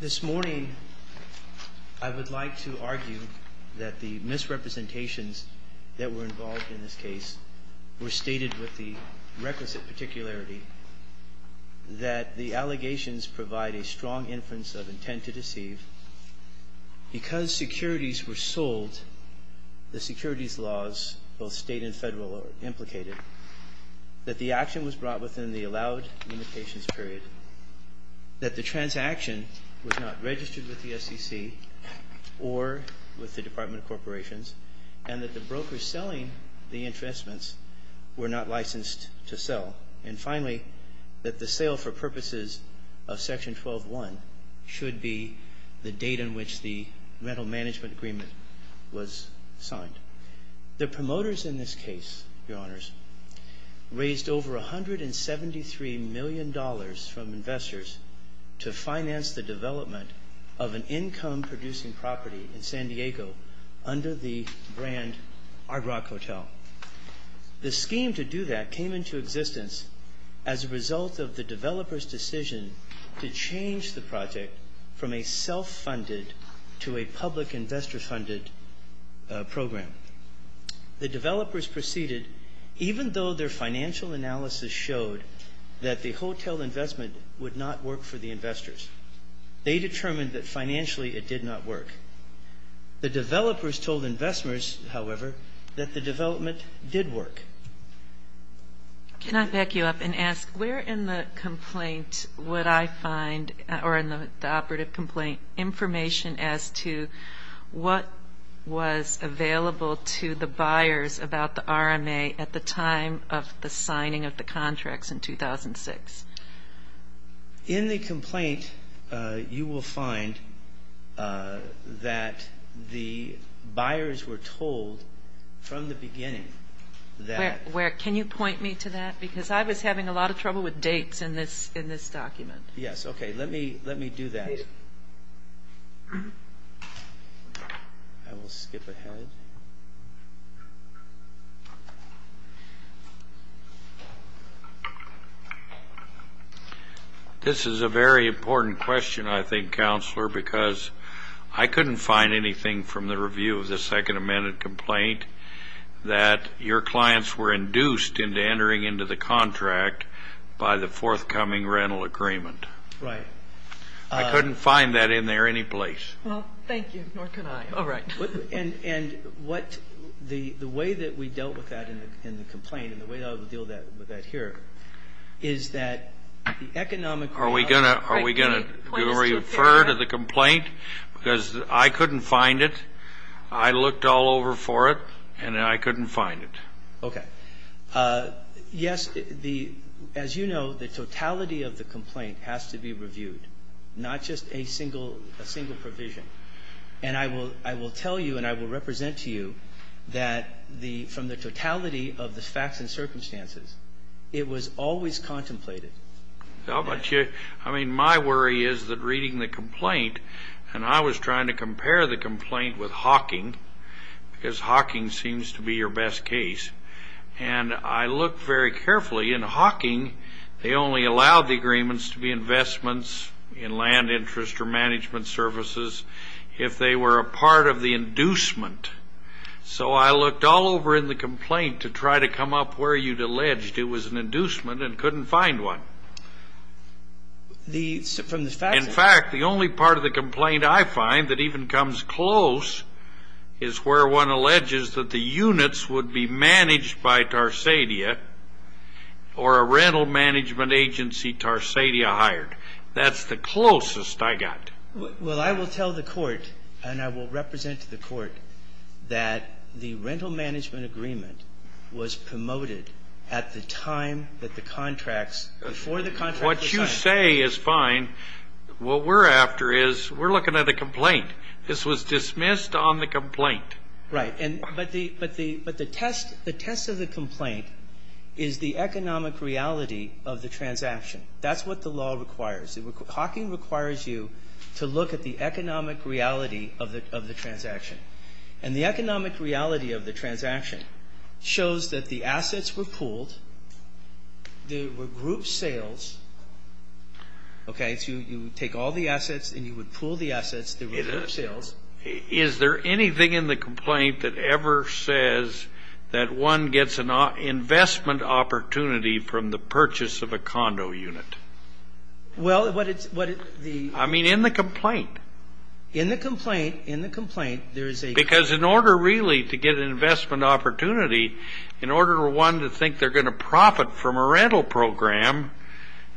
This morning I would like to argue that the misrepresentations that were involved in this case were stated with the requisite particularity that the allegations provide a strong inference of intent to deceive because securities were sold the securities laws both state and federal are implicated that the transaction was not registered with the SEC or with the Department of Corporations and that the broker selling the investments were not licensed to sell and finally that the sale for purposes of section 12-1 should be the date in which the rental management agreement was signed. The promoters in this case, Your Honors, raised over $173 million from investors to finance the development of an income-producing property in San Diego under the brand Ardrock Hotel. The scheme to do that came into existence as a result of the developer's decision to change the project from a self-funded to a public hotel. The developers proceeded even though their financial analysis showed that the hotel investment would not work for the investors. They determined that financially it did not work. The developers told investors, however, that the development did work. Can I back you up and ask where in the complaint would I find or in the operative complaint information as to what was available to the buyers about the RMA at the time of the signing of the contracts in 2006? In the complaint, you will find that the buyers were told from the beginning that... Where? Can you point me to that? Because I was having a lot of trouble with dates in this document. Yes, okay. Let me do that. This is a very important question, I think, Counselor, because I couldn't find anything from the review of the Second Amendment complaint that your clients were induced into entering into the contract by the forthcoming rental agreement. Right. I couldn't find that in there any place. Well, thank you, nor could I. All right. And what the way that we dealt with that in the complaint and the way I would deal with that here is that the economic... Are we going to refer to the complaint? Because I couldn't find it. I looked all over for it, and I couldn't find it. Okay. Yes, as you know, the totality of the complaint has to be reviewed, not just a single provision. And I will tell you and I will represent to you that from the totality of the facts and circumstances, it was always contemplated. I mean, my worry is that reading the complaint, and I was trying to compare the complaint with Hawking, because Hawking seems to be your best case. And I looked very carefully. In Hawking, they only allowed the agreements to be investments in land interest or management services if they were a part of the inducement. So I looked all over in the complaint to try to come up where you'd alleged it was an inducement and couldn't find one. From the facts? In fact, the only part of the complaint I find that even comes close is where one alleges that the units would be managed by Tarsadia or a rental management agency Tarsadia hired. That's the closest I got. Well, I will tell the court and I will represent to the court that the rental management agreement was promoted at the time that the contracts... What you say is fine. What we're after is we're looking at a complaint. This was dismissed on the complaint. Right. But the test of the complaint is the economic reality of the transaction. That's what the law requires. Hawking requires you to look at the economic reality of the transaction. And the economic reality of the transaction shows that the assets were pooled, there were group sales, okay, so you take all the assets and you would pool the assets, there were group sales. Is there anything in the complaint that ever says that one gets an investment opportunity from the purchase of a condo unit? Well, what it's the... I mean, in the complaint. In the complaint, in the complaint, there is a... Because in order really to get an investment opportunity, in order for one to think they're going to profit from a rental program,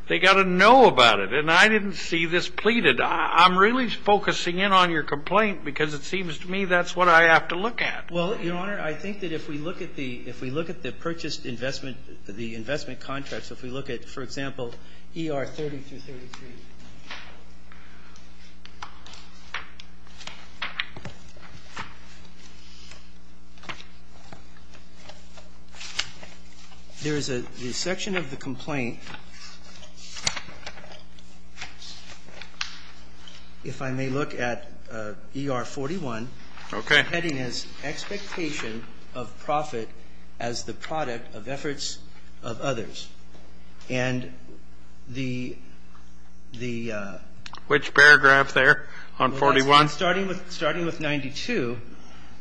they've got to know about it. And I didn't see this pleaded. I'm really focusing in on your complaint because it seems to me that's what I have to look at. Well, Your Honor, I think that if we look at the purchased investment, the investment contracts, if we look at, for example, ER 30-33, there is a section of the complaint, if I may look at ER 41. Okay. It's written as expectation of profit as the product of efforts of others. And the... Which paragraph there on 41? Starting with 92.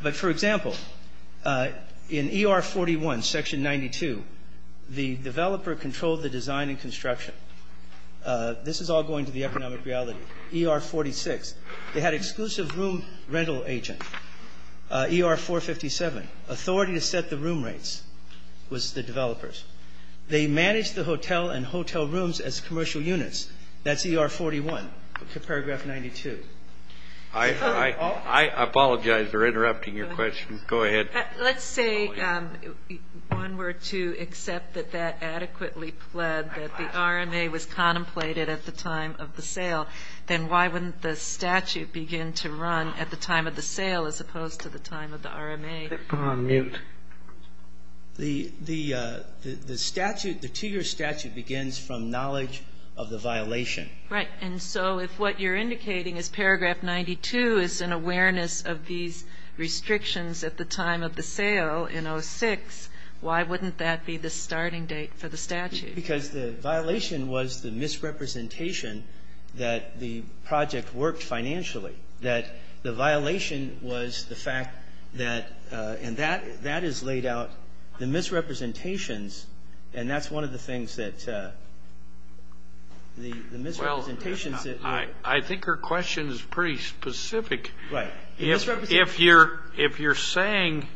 But, for example, in ER 41, section 92, the developer controlled the design and construction. This is all going to the economic reality. They had exclusive room rental agent, ER 457. Authority to set the room rates was the developer's. They managed the hotel and hotel rooms as commercial units. That's ER 41, paragraph 92. I apologize for interrupting your question. Go ahead. Let's say one were to accept that that adequately pled that the RMA was contemplated at the time of the sale. Then why wouldn't the statute begin to run at the time of the sale as opposed to the time of the RMA? Go on. Mute. The statute, the two-year statute, begins from knowledge of the violation. Right. And so if what you're indicating is paragraph 92 is an awareness of these restrictions at the time of the sale in 06, why wouldn't that be the starting date for the statute? Because the violation was the misrepresentation that the project worked financially, that the violation was the fact that, and that is laid out, the misrepresentations, and that's one of the things that the misrepresentations. I think her question is pretty specific. Right. If you're saying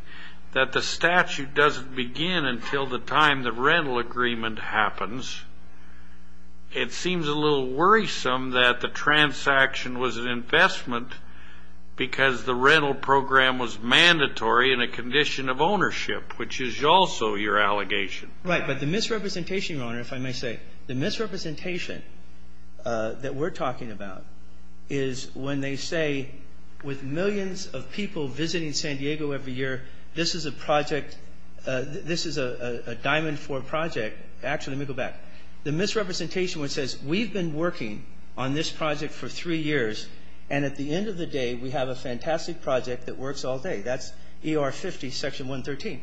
that the statute doesn't begin until the time the rental agreement happens, it seems a little worrisome that the transaction was an investment because the rental program was mandatory in a condition of ownership, which is also your allegation. But the misrepresentation, Your Honor, if I may say, the misrepresentation that we're talking about is when they say with millions of people visiting San Diego every year, this is a project, this is a diamond-forged project. Actually, let me go back. The misrepresentation which says we've been working on this project for three years, and at the end of the day we have a fantastic project that works all day. That's ER 50, Section 113.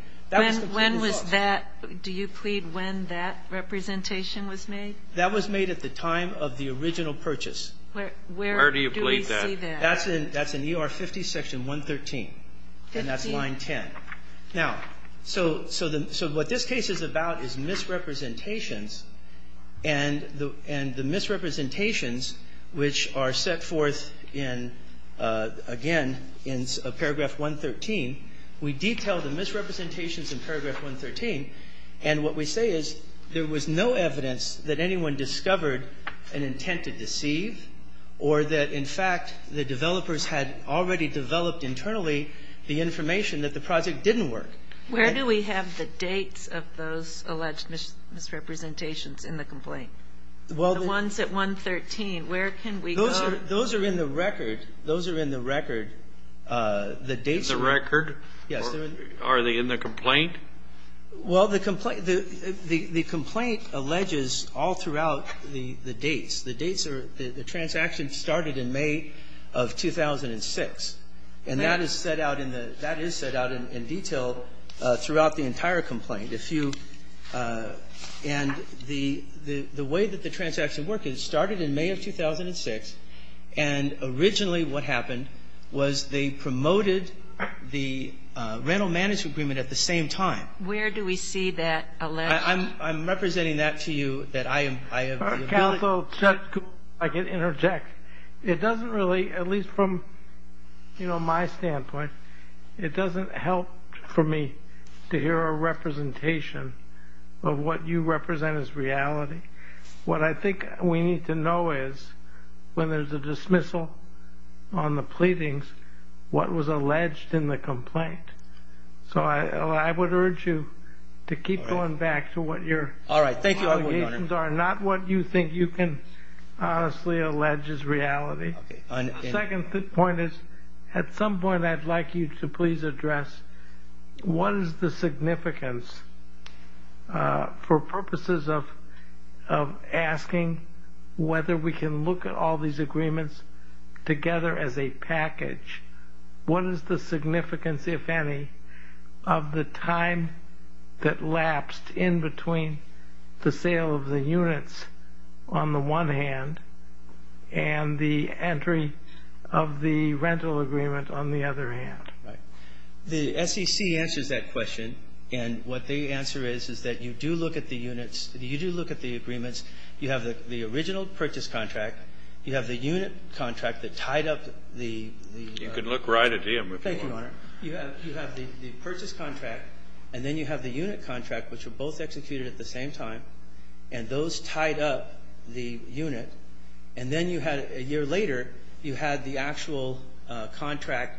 When was that? Do you plead when that representation was made? That was made at the time of the original purchase. Where do you plead that? That's in ER 50, Section 113. And that's line 10. Now, so what this case is about is misrepresentations, and the misrepresentations which are set forth in, again, in Paragraph 113, we detail the misrepresentations in Paragraph 113, and what we say is there was no evidence that anyone discovered an intent to deceive or that, in fact, the developers had already developed internally the information that the project didn't work. Where do we have the dates of those alleged misrepresentations in the complaint? The ones at 113, where can we go? Those are in the record. Those are in the record. The dates are in the record. Yes. Are they in the complaint? Well, the complaint alleges all throughout the dates. The dates are the transaction started in May of 2006, and that is set out in detail throughout the entire complaint. And the way that the transactions work is it started in May of 2006, and originally what happened was they promoted the rental management agreement at the same time. Where do we see that alleged? I'm representing that to you that I am. Counsel, if I could interject. It doesn't really, at least from, you know, my standpoint, it doesn't help for me to hear a representation of what you represent as reality. What I think we need to know is when there's a dismissal on the pleadings, what was alleged in the complaint. So I would urge you to keep going back to what your allegations are, not what you think you can honestly allege is reality. The second point is at some point I'd like you to please address what is the significance, for purposes of asking whether we can look at all these agreements together as a package, what is the significance, if any, of the time that lapsed in between the sale of the units on the one hand and the entry of the rental agreement on the other hand. Right. The SEC answers that question, and what the answer is is that you do look at the units, you do look at the agreements, you have the original purchase contract, you have the unit contract that tied up the... You can look right at him if you want. Thank you, Your Honor. You have the purchase contract, and then you have the unit contract, which were both executed at the same time, and those tied up the unit, and then a year later you had the actual contract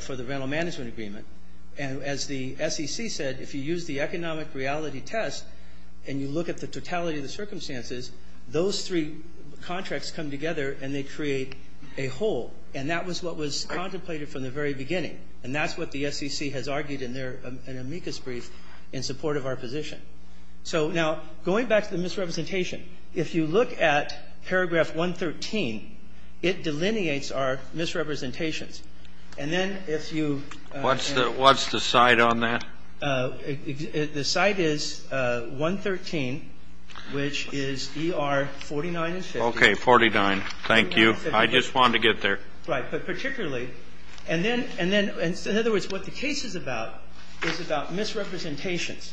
for the rental management agreement. And as the SEC said, if you use the economic reality test and you look at the totality of the circumstances, those three contracts come together and they create a whole, and that was what was contemplated from the very beginning, and that's what the SEC has argued in their amicus brief in support of our position. So now going back to the misrepresentation, if you look at paragraph 113, it delineates our misrepresentations. And then if you... What's the site on that? The site is 113, which is ER 49 and 50. Okay, 49. Thank you. I just wanted to get there. Right. But particularly, and then, in other words, what the case is about is about misrepresentations.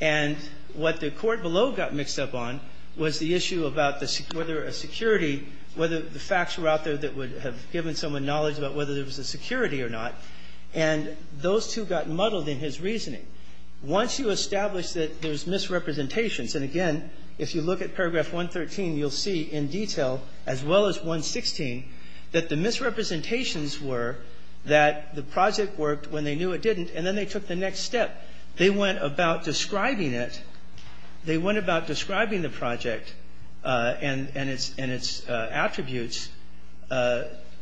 And what the Court below got mixed up on was the issue about whether a security or whether the facts were out there that would have given someone knowledge about whether there was a security or not, and those two got muddled in his reasoning. Once you establish that there's misrepresentations, and again, if you look at paragraph 113, you'll see in detail, as well as 116, that the misrepresentations were that the project worked when they knew it didn't, and then they took the next step. They went about describing it. They went about describing the project and its attributes.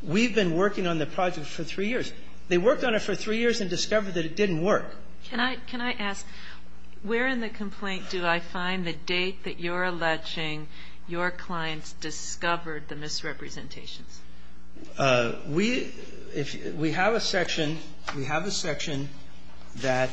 We've been working on the project for three years. They worked on it for three years and discovered that it didn't work. So can I ask, where in the complaint do I find the date that you're alleging your clients discovered the misrepresentations? We have a section that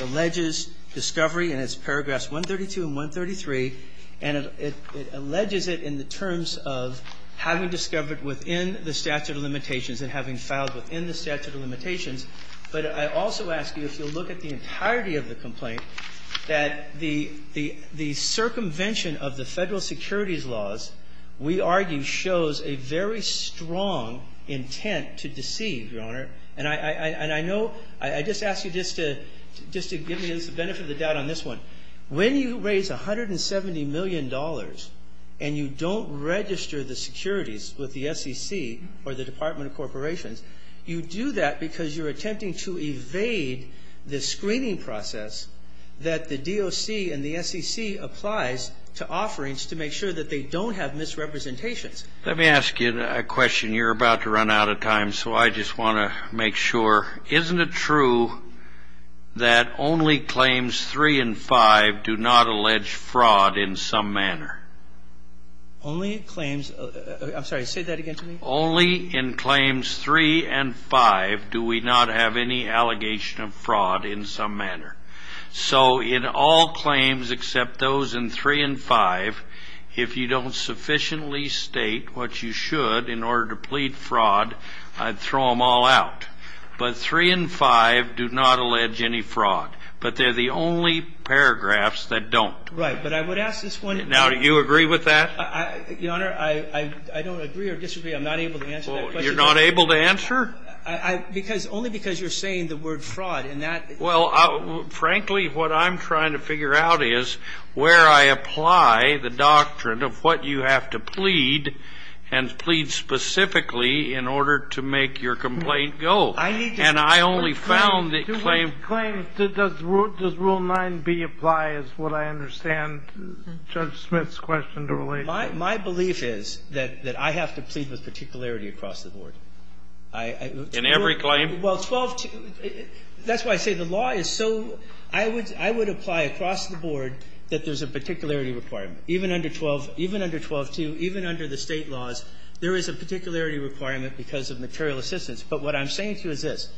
alleges discovery, and it's paragraphs 132 and 133. And it alleges it in the terms of having discovered within the statute of limitations and having filed within the statute of limitations. But I also ask you, if you'll look at the entirety of the complaint, that the circumvention of the Federal securities laws, we argue, shows a very strong intent to deceive, Your Honor. And I know – I just ask you just to give me the benefit of the doubt on this one. When you raise $170 million and you don't register the securities with the SEC or the Department of Corporations, you do that because you're attempting to evade the screening process that the DOC and the SEC applies to offerings to make sure that they don't have misrepresentations. Let me ask you a question. You're about to run out of time, so I just want to make sure. Isn't it true that only claims 3 and 5 do not allege fraud in some manner? Only claims – I'm sorry, say that again to me. Only in claims 3 and 5 do we not have any allegation of fraud in some manner. So in all claims except those in 3 and 5, if you don't sufficiently state what you should in order to plead fraud, I'd throw them all out. But 3 and 5 do not allege any fraud. But they're the only paragraphs that don't. Right. But I would ask this one – Now, do you agree with that? Your Honor, I don't agree or disagree. I'm not able to answer that question. You're not able to answer? Because – only because you're saying the word fraud. And that – Well, frankly, what I'm trying to figure out is where I apply the doctrine of what you have to plead and plead specifically in order to make your complaint go. I need to – And I only found that claim – Does rule 9b apply is what I understand Judge Smith's question to relate to. My belief is that I have to plead with particularity across the board. I – In every claim? Well, 12 – that's why I say the law is so – I would apply across the board that there's a particularity requirement. Even under 12 – even under 12.2, even under the State laws, there is a particularity requirement because of material assistance. But what I'm saying to you is this.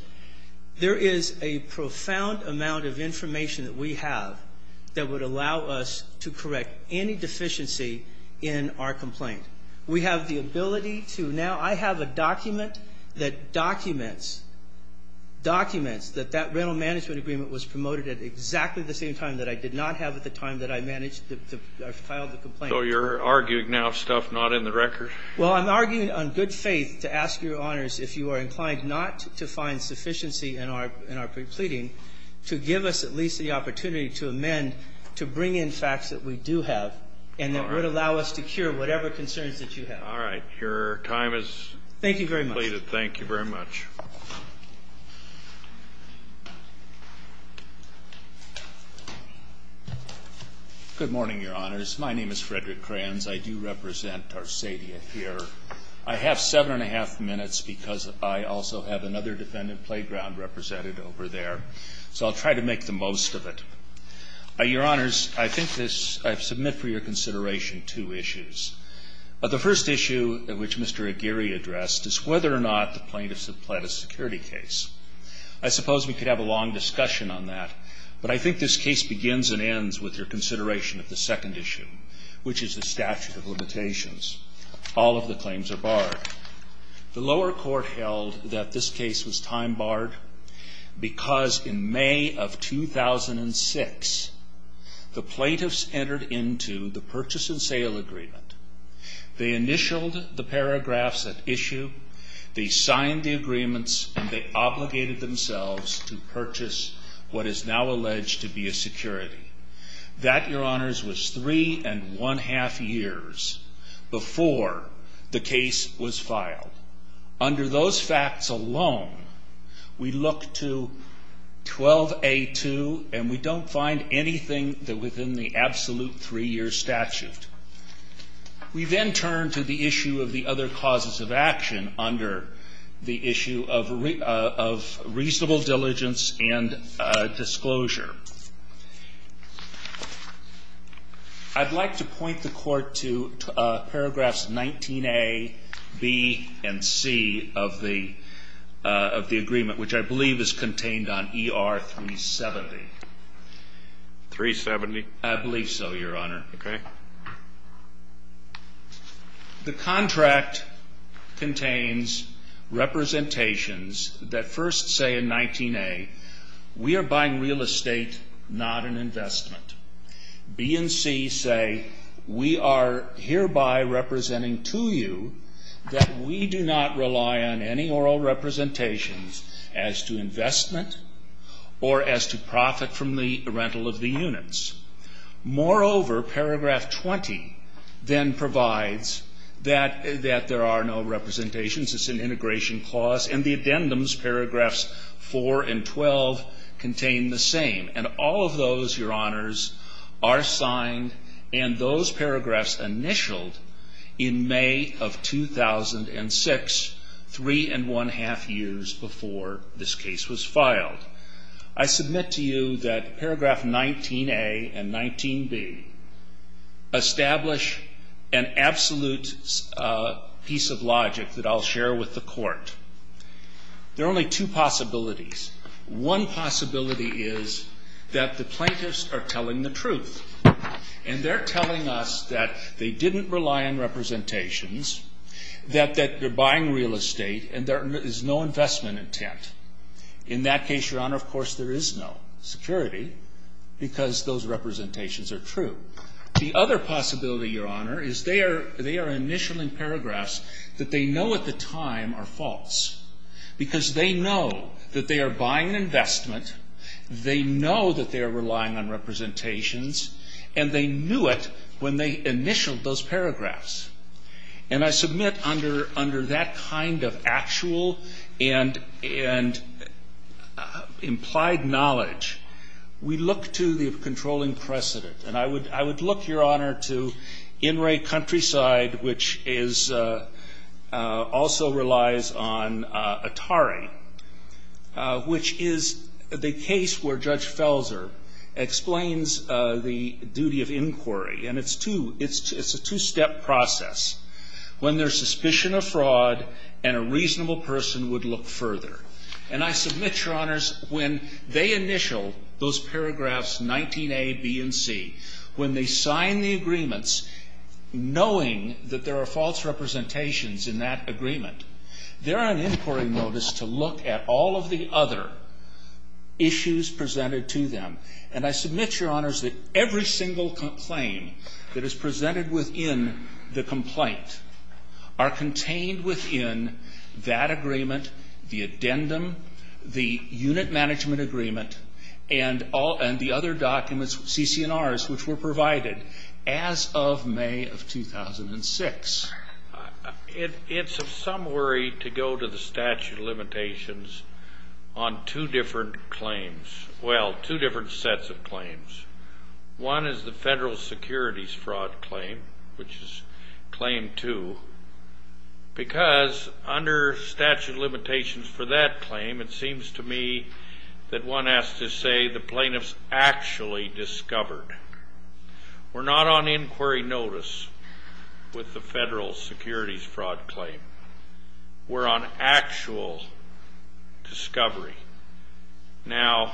There is a profound amount of information that we have that would allow us to correct any deficiency in our complaint. We have the ability to now – I have a document that documents – documents that that rental management agreement was promoted at exactly the same time that I did not have at the time that I managed to – I filed the complaint. So you're arguing now stuff not in the record? Well, I'm arguing on good faith to ask Your Honors if you are inclined not to find sufficiency in our – in our pre-pleading to give us at least the opportunity to amend to bring in facts that we do have and that would allow us to cure whatever concerns that you have. All right. Your time is completed. Thank you very much. Thank you very much. Good morning, Your Honors. My name is Frederick Kranz. I do represent Tarsadia here. I have seven and a half minutes because I also have another defendant playground represented over there. So I'll try to make the most of it. Your Honors, I think this – I submit for your consideration two issues. The first issue which Mr. Aguirre addressed is whether or not the plaintiffs have pled a security case. I suppose we could have a long discussion on that, but I think this case begins and ends with your consideration of the second issue, which is the statute of limitations. All of the claims are barred. The lower court held that this case was time barred because in May of 2006, the plaintiffs entered into the purchase and sale agreement. They initialed the paragraphs at issue, they signed the agreements, and they obligated themselves to purchase what is now alleged to be a security. That, Your Honors, was three and one-half years before the case was filed. Under those facts alone, we look to 12A2, and we don't find anything within the absolute three-year statute. We then turn to the issue of the other causes of action under the issue of reasonable diligence and disclosure. I'd like to point the court to paragraphs 19A, B, and C of the agreement, which I believe is contained on ER 370. 370? I believe so, Your Honor. Okay. The contract contains representations that first say in 19A, we are buying real estate, not an investment. B and C say, we are hereby representing to you that we do not rely on any oral representations as to investment or as to profit from the rental of the units. Moreover, paragraph 20 then provides that there are no representations, it's an integration clause, and the addendums, paragraphs 4 and 12, contain the same. And all of those, Your Honors, are signed, and those paragraphs initialed in May of 2006, three and one-half years before this case was filed. I submit to you that paragraph 19A and 19B establish an absolute piece of logic that I'll share with the court. There are only two possibilities. One possibility is that the plaintiffs are telling the truth, and they're telling us that they didn't rely on representations, that they're buying real estate, and there is no investment intent. In that case, Your Honor, of course there is no security, because those representations are true. The other possibility, Your Honor, is they are initialing paragraphs that they know at the time are false, because they know that they are buying an investment, they know that they are relying on representations, and they knew it when they initialed those paragraphs. And I submit under that kind of actual and implied knowledge, we look to the controlling precedent. And I would look, Your Honor, to In Re Countryside, which also relies on Atari, which is the case where Judge Felser explains the duty of inquiry, and it's a two-step process. When there's suspicion of fraud and a reasonable person would look further. And I submit, Your Honors, when they initial those paragraphs 19A, B, and C, when they sign the agreements knowing that there are false representations in that agreement, they're on inquiry notice to look at all of the other issues presented to them. And I submit, Your Honors, that every single claim that is presented within the complaint are contained within that agreement, the addendum, the unit management agreement, and the other documents, CC&Rs, which were provided as of May of 2006. It's of some worry to go to the statute of limitations on two different claims. Well, two different sets of claims. One is the federal securities fraud claim, which is claim two, because under statute of limitations for that claim, it seems to me that one has to say the plaintiff's actually discovered. We're not on inquiry notice with the federal securities fraud claim. We're on actual discovery. Now,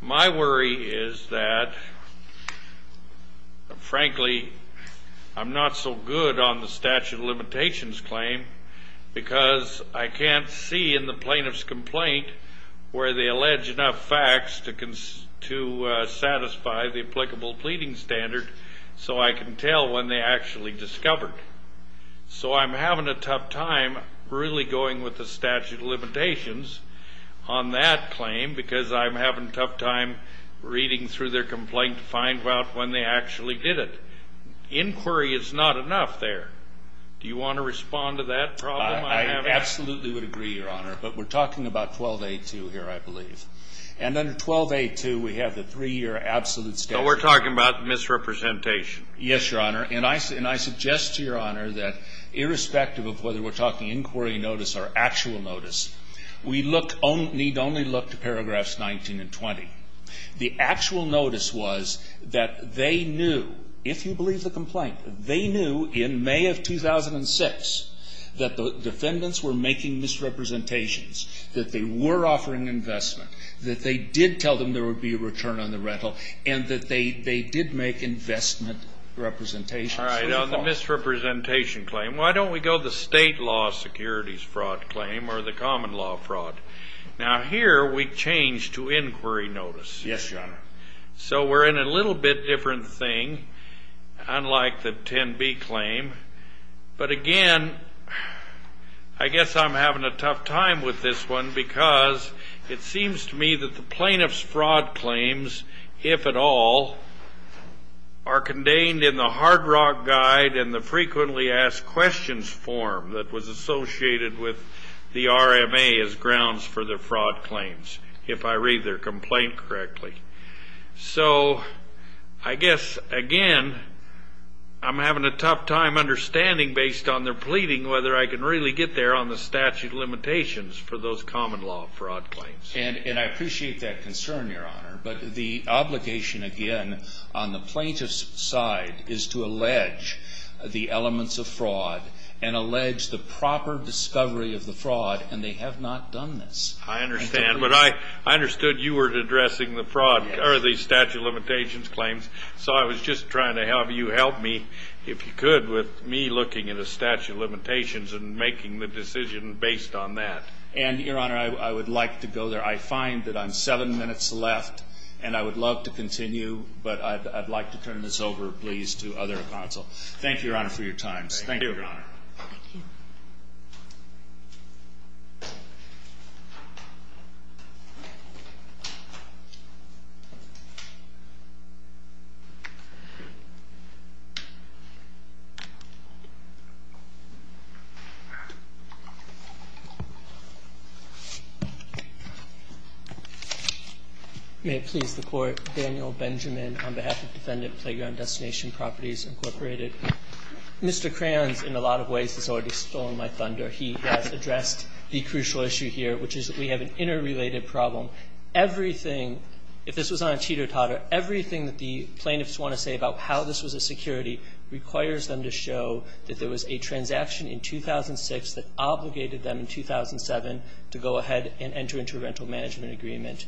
my worry is that, frankly, I'm not so good on the statute of limitations claim because I can't see in the plaintiff's complaint where they allege enough facts to satisfy the applicable pleading standard so I can tell when they actually discovered. So I'm having a tough time really going with the statute of limitations on that claim because I'm having a tough time reading through their complaint to find out when they actually did it. Inquiry is not enough there. Do you want to respond to that problem? I absolutely would agree, Your Honor. But we're talking about 12A2 here, I believe. And under 12A2, we have the three-year absolute statute. So we're talking about misrepresentation. Yes, Your Honor. And I suggest to Your Honor that irrespective of whether we're talking inquiry notice or actual notice, we need only look to paragraphs 19 and 20. The actual notice was that they knew, if you believe the complaint, they knew in May of 2006 that the defendants were making misrepresentations, that they were offering investment, that they did tell them there would be a return on the rental, and that they did make investment representations. All right. Now the misrepresentation claim. Why don't we go the state law securities fraud claim or the common law fraud? Now here we change to inquiry notice. Yes, Your Honor. So we're in a little bit different thing, unlike the 10B claim. But again, I guess I'm having a tough time with this one because it seems to me that the plaintiff's fraud claims, if at all, are contained in the Hard Rock Guide and the Frequently Asked Questions form that was associated with the RMA as grounds for their fraud claims, if I read their complaint correctly. So I guess, again, I'm having a tough time understanding, based on their pleading, whether I can really get there on the statute of limitations for those common law fraud claims. And I appreciate that concern, Your Honor. But the obligation, again, on the plaintiff's side is to allege the elements of fraud and allege the proper discovery of the fraud, and they have not done this. I understand. But I understood you were addressing the statute of limitations claims, so I was just trying to have you help me, if you could, with me looking at the statute of limitations and making the decision based on that. And, Your Honor, I would like to go there. I find that I'm seven minutes left, and I would love to continue, but I'd like to turn this over, please, to other counsel. Thank you, Your Honor, for your time. Thank you. May it please the Court. Daniel Benjamin, on behalf of Defendant Playground Destination Properties, Incorporated. Mr. Kranz, in a lot of ways, has already stolen my thunder. He has addressed the crucial issue here, which is that we have an interrelated problem. Everything, if this was on a teeter-totter, everything that the plaintiffs want to say about how this was a security requires them to show that there was a transaction in 2006 that obligated them in 2007 to go ahead and enter into a rental management agreement.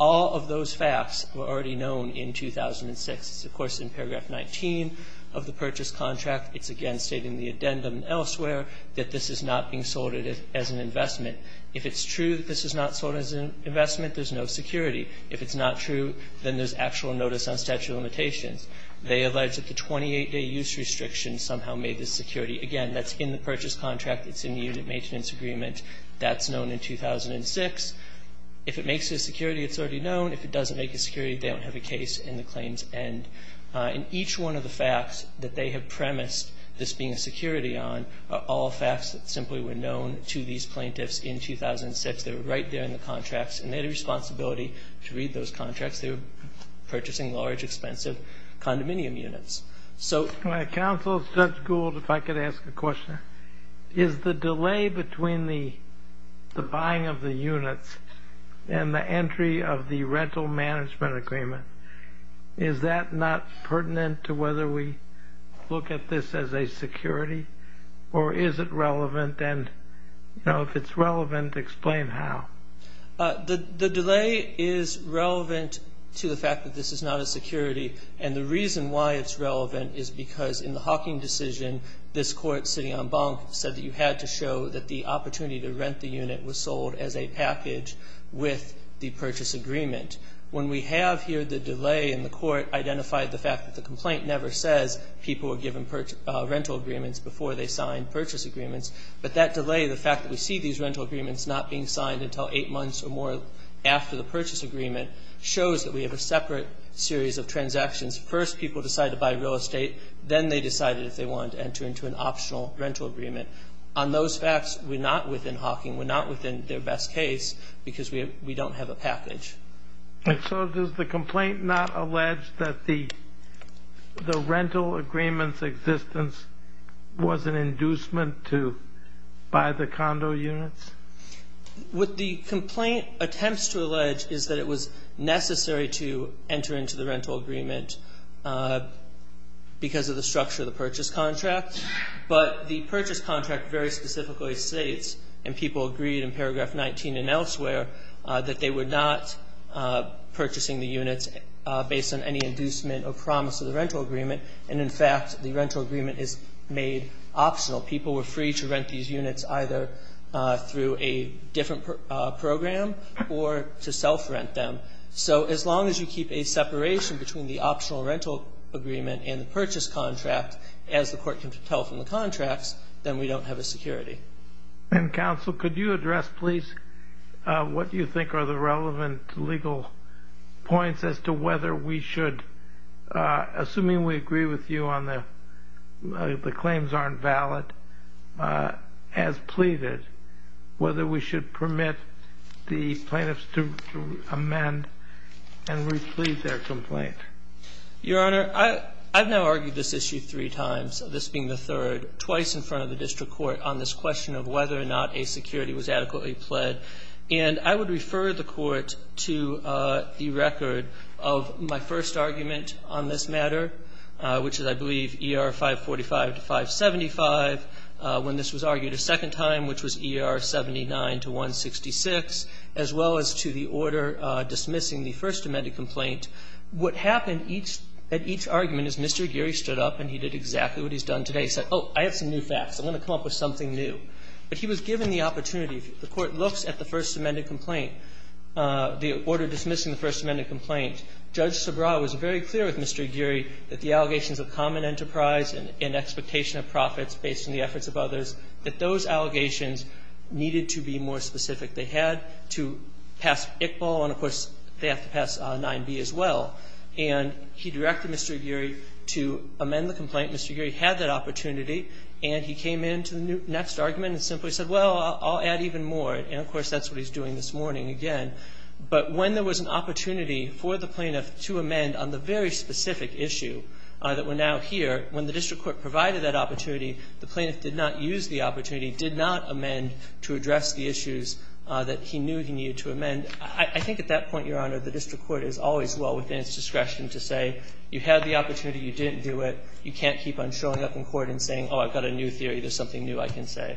All of those facts were already known in 2006. It's, of course, in paragraph 19 of the purchase contract. It's, again, stating the addendum elsewhere that this is not being sold as an investment. If it's true that this is not sold as an investment, there's no security. If it's not true, then there's actual notice on statute of limitations. They allege that the 28-day use restriction somehow made this security. Again, that's in the purchase contract. It's in the unit maintenance agreement. That's known in 2006. If it makes it a security, it's already known. If it doesn't make it a security, they don't have a case, and the claims end. And each one of the facts that they have premised this being a security on are all facts that simply were known to these plaintiffs in 2006. They were right there in the contracts, and they had a responsibility to read those contracts. They were purchasing large, expensive condominium units. Counsel, Judge Gould, if I could ask a question. Is the delay between the buying of the units and the entry of the rental management agreement, is that not pertinent to whether we look at this as a security, or is it relevant? And if it's relevant, explain how. The delay is relevant to the fact that this is not a security, and the reason why it's relevant is because in the Hawking decision, this court sitting on bunk said that you had to show that the opportunity to rent the unit was sold as a package with the purchase agreement. When we have here the delay, and the court identified the fact that the complaint never says people were given rental agreements before they signed purchase agreements, but that delay, the fact that we see these rental agreements not being signed until eight months or more after the purchase agreement, shows that we have a separate series of transactions. First, people decided to buy real estate. Then they decided if they wanted to enter into an optional rental agreement. On those facts, we're not within Hawking. We're not within their best case because we don't have a package. And so does the complaint not allege that the rental agreement's existence was an inducement to buy the condo units? What the complaint attempts to allege is that it was necessary to enter into the rental agreement because of the structure of the purchase contract. But the purchase contract very specifically states, and people agreed in Paragraph 19 and elsewhere, that they were not purchasing the units based on any inducement or promise of the rental agreement, and, in fact, the rental agreement is made optional. People were free to rent these units either through a different program or to self-rent them. So as long as you keep a separation between the optional rental agreement and the purchase contract, as the court can tell from the contracts, then we don't have a security. And, Counsel, could you address, please, what you think are the relevant legal points as to whether we should, assuming we agree with you on the claims aren't we plead their complaint? Your Honor, I've now argued this issue three times, this being the third, twice in front of the district court on this question of whether or not a security was adequately pled. And I would refer the Court to the record of my first argument on this matter, which is, I believe, ER 545 to 575, when this was argued a second time, which was ER 79 to 166, as well as to the order dismissing the First Amendment complaint. What happened at each argument is Mr. Aguirre stood up and he did exactly what he's done today. He said, oh, I have some new facts. I'm going to come up with something new. But he was given the opportunity. The Court looks at the First Amendment complaint, the order dismissing the First Amendment complaint. Judge Sobraw was very clear with Mr. Aguirre that the allegations of common enterprise and expectation of profits based on the efforts of others, that those allegations needed to be more specific. They had to pass Iqbal, and, of course, they have to pass 9b as well. And he directed Mr. Aguirre to amend the complaint. Mr. Aguirre had that opportunity, and he came into the next argument and simply said, well, I'll add even more. And, of course, that's what he's doing this morning again. But when there was an opportunity for the plaintiff to amend on the very specific issue that we're now here, when the district court provided that opportunity, the plaintiff did not use the opportunity, did not amend to address the issues that he knew he needed to amend. I think at that point, Your Honor, the district court is always well within its discretion to say you had the opportunity, you didn't do it. You can't keep on showing up in court and saying, oh, I've got a new theory. There's something new I can say.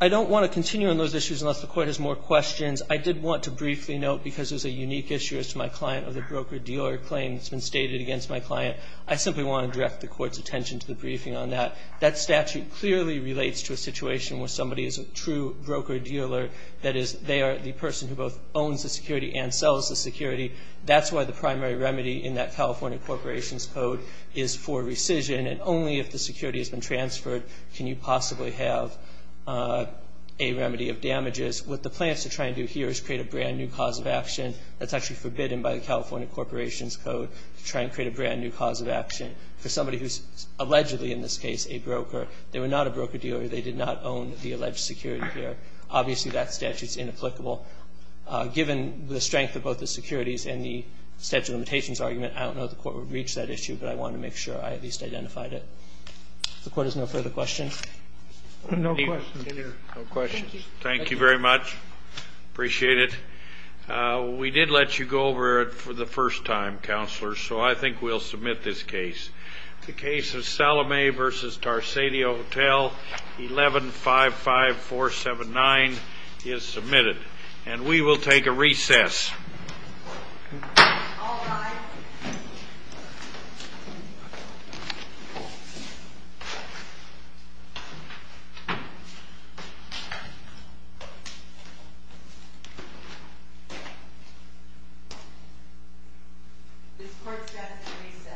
I don't want to continue on those issues unless the Court has more questions. I did want to briefly note, because there's a unique issue as to my client, of the broker-dealer claim that's been stated against my client, I simply want to direct the Court's attention to the briefing on that. That statute clearly relates to a situation where somebody is a true broker-dealer. That is, they are the person who both owns the security and sells the security. That's why the primary remedy in that California Corporations Code is for rescission, and only if the security has been transferred can you possibly have a remedy of damages. What the plaintiff is trying to do here is create a brand-new cause of action that's actually forbidden by the California Corporations Code to try and create a brand-new cause of action for somebody who's allegedly, in this case, a broker. They were not a broker-dealer. They did not own the alleged security here. Obviously, that statute is inapplicable. Given the strength of both the securities and the statute of limitations argument, I don't know if the Court would reach that issue, but I want to make sure I at least identified it. If the Court has no further questions. Kennedy. No questions. Thank you very much. Appreciate it. We did let you go over it for the first time, Counselors, so I think we'll submit this case. The case of Salome v. Tarsadio Hotel, 1155479 is submitted, and we will take a recess. This Court stands at recess. Thank you. Thank you.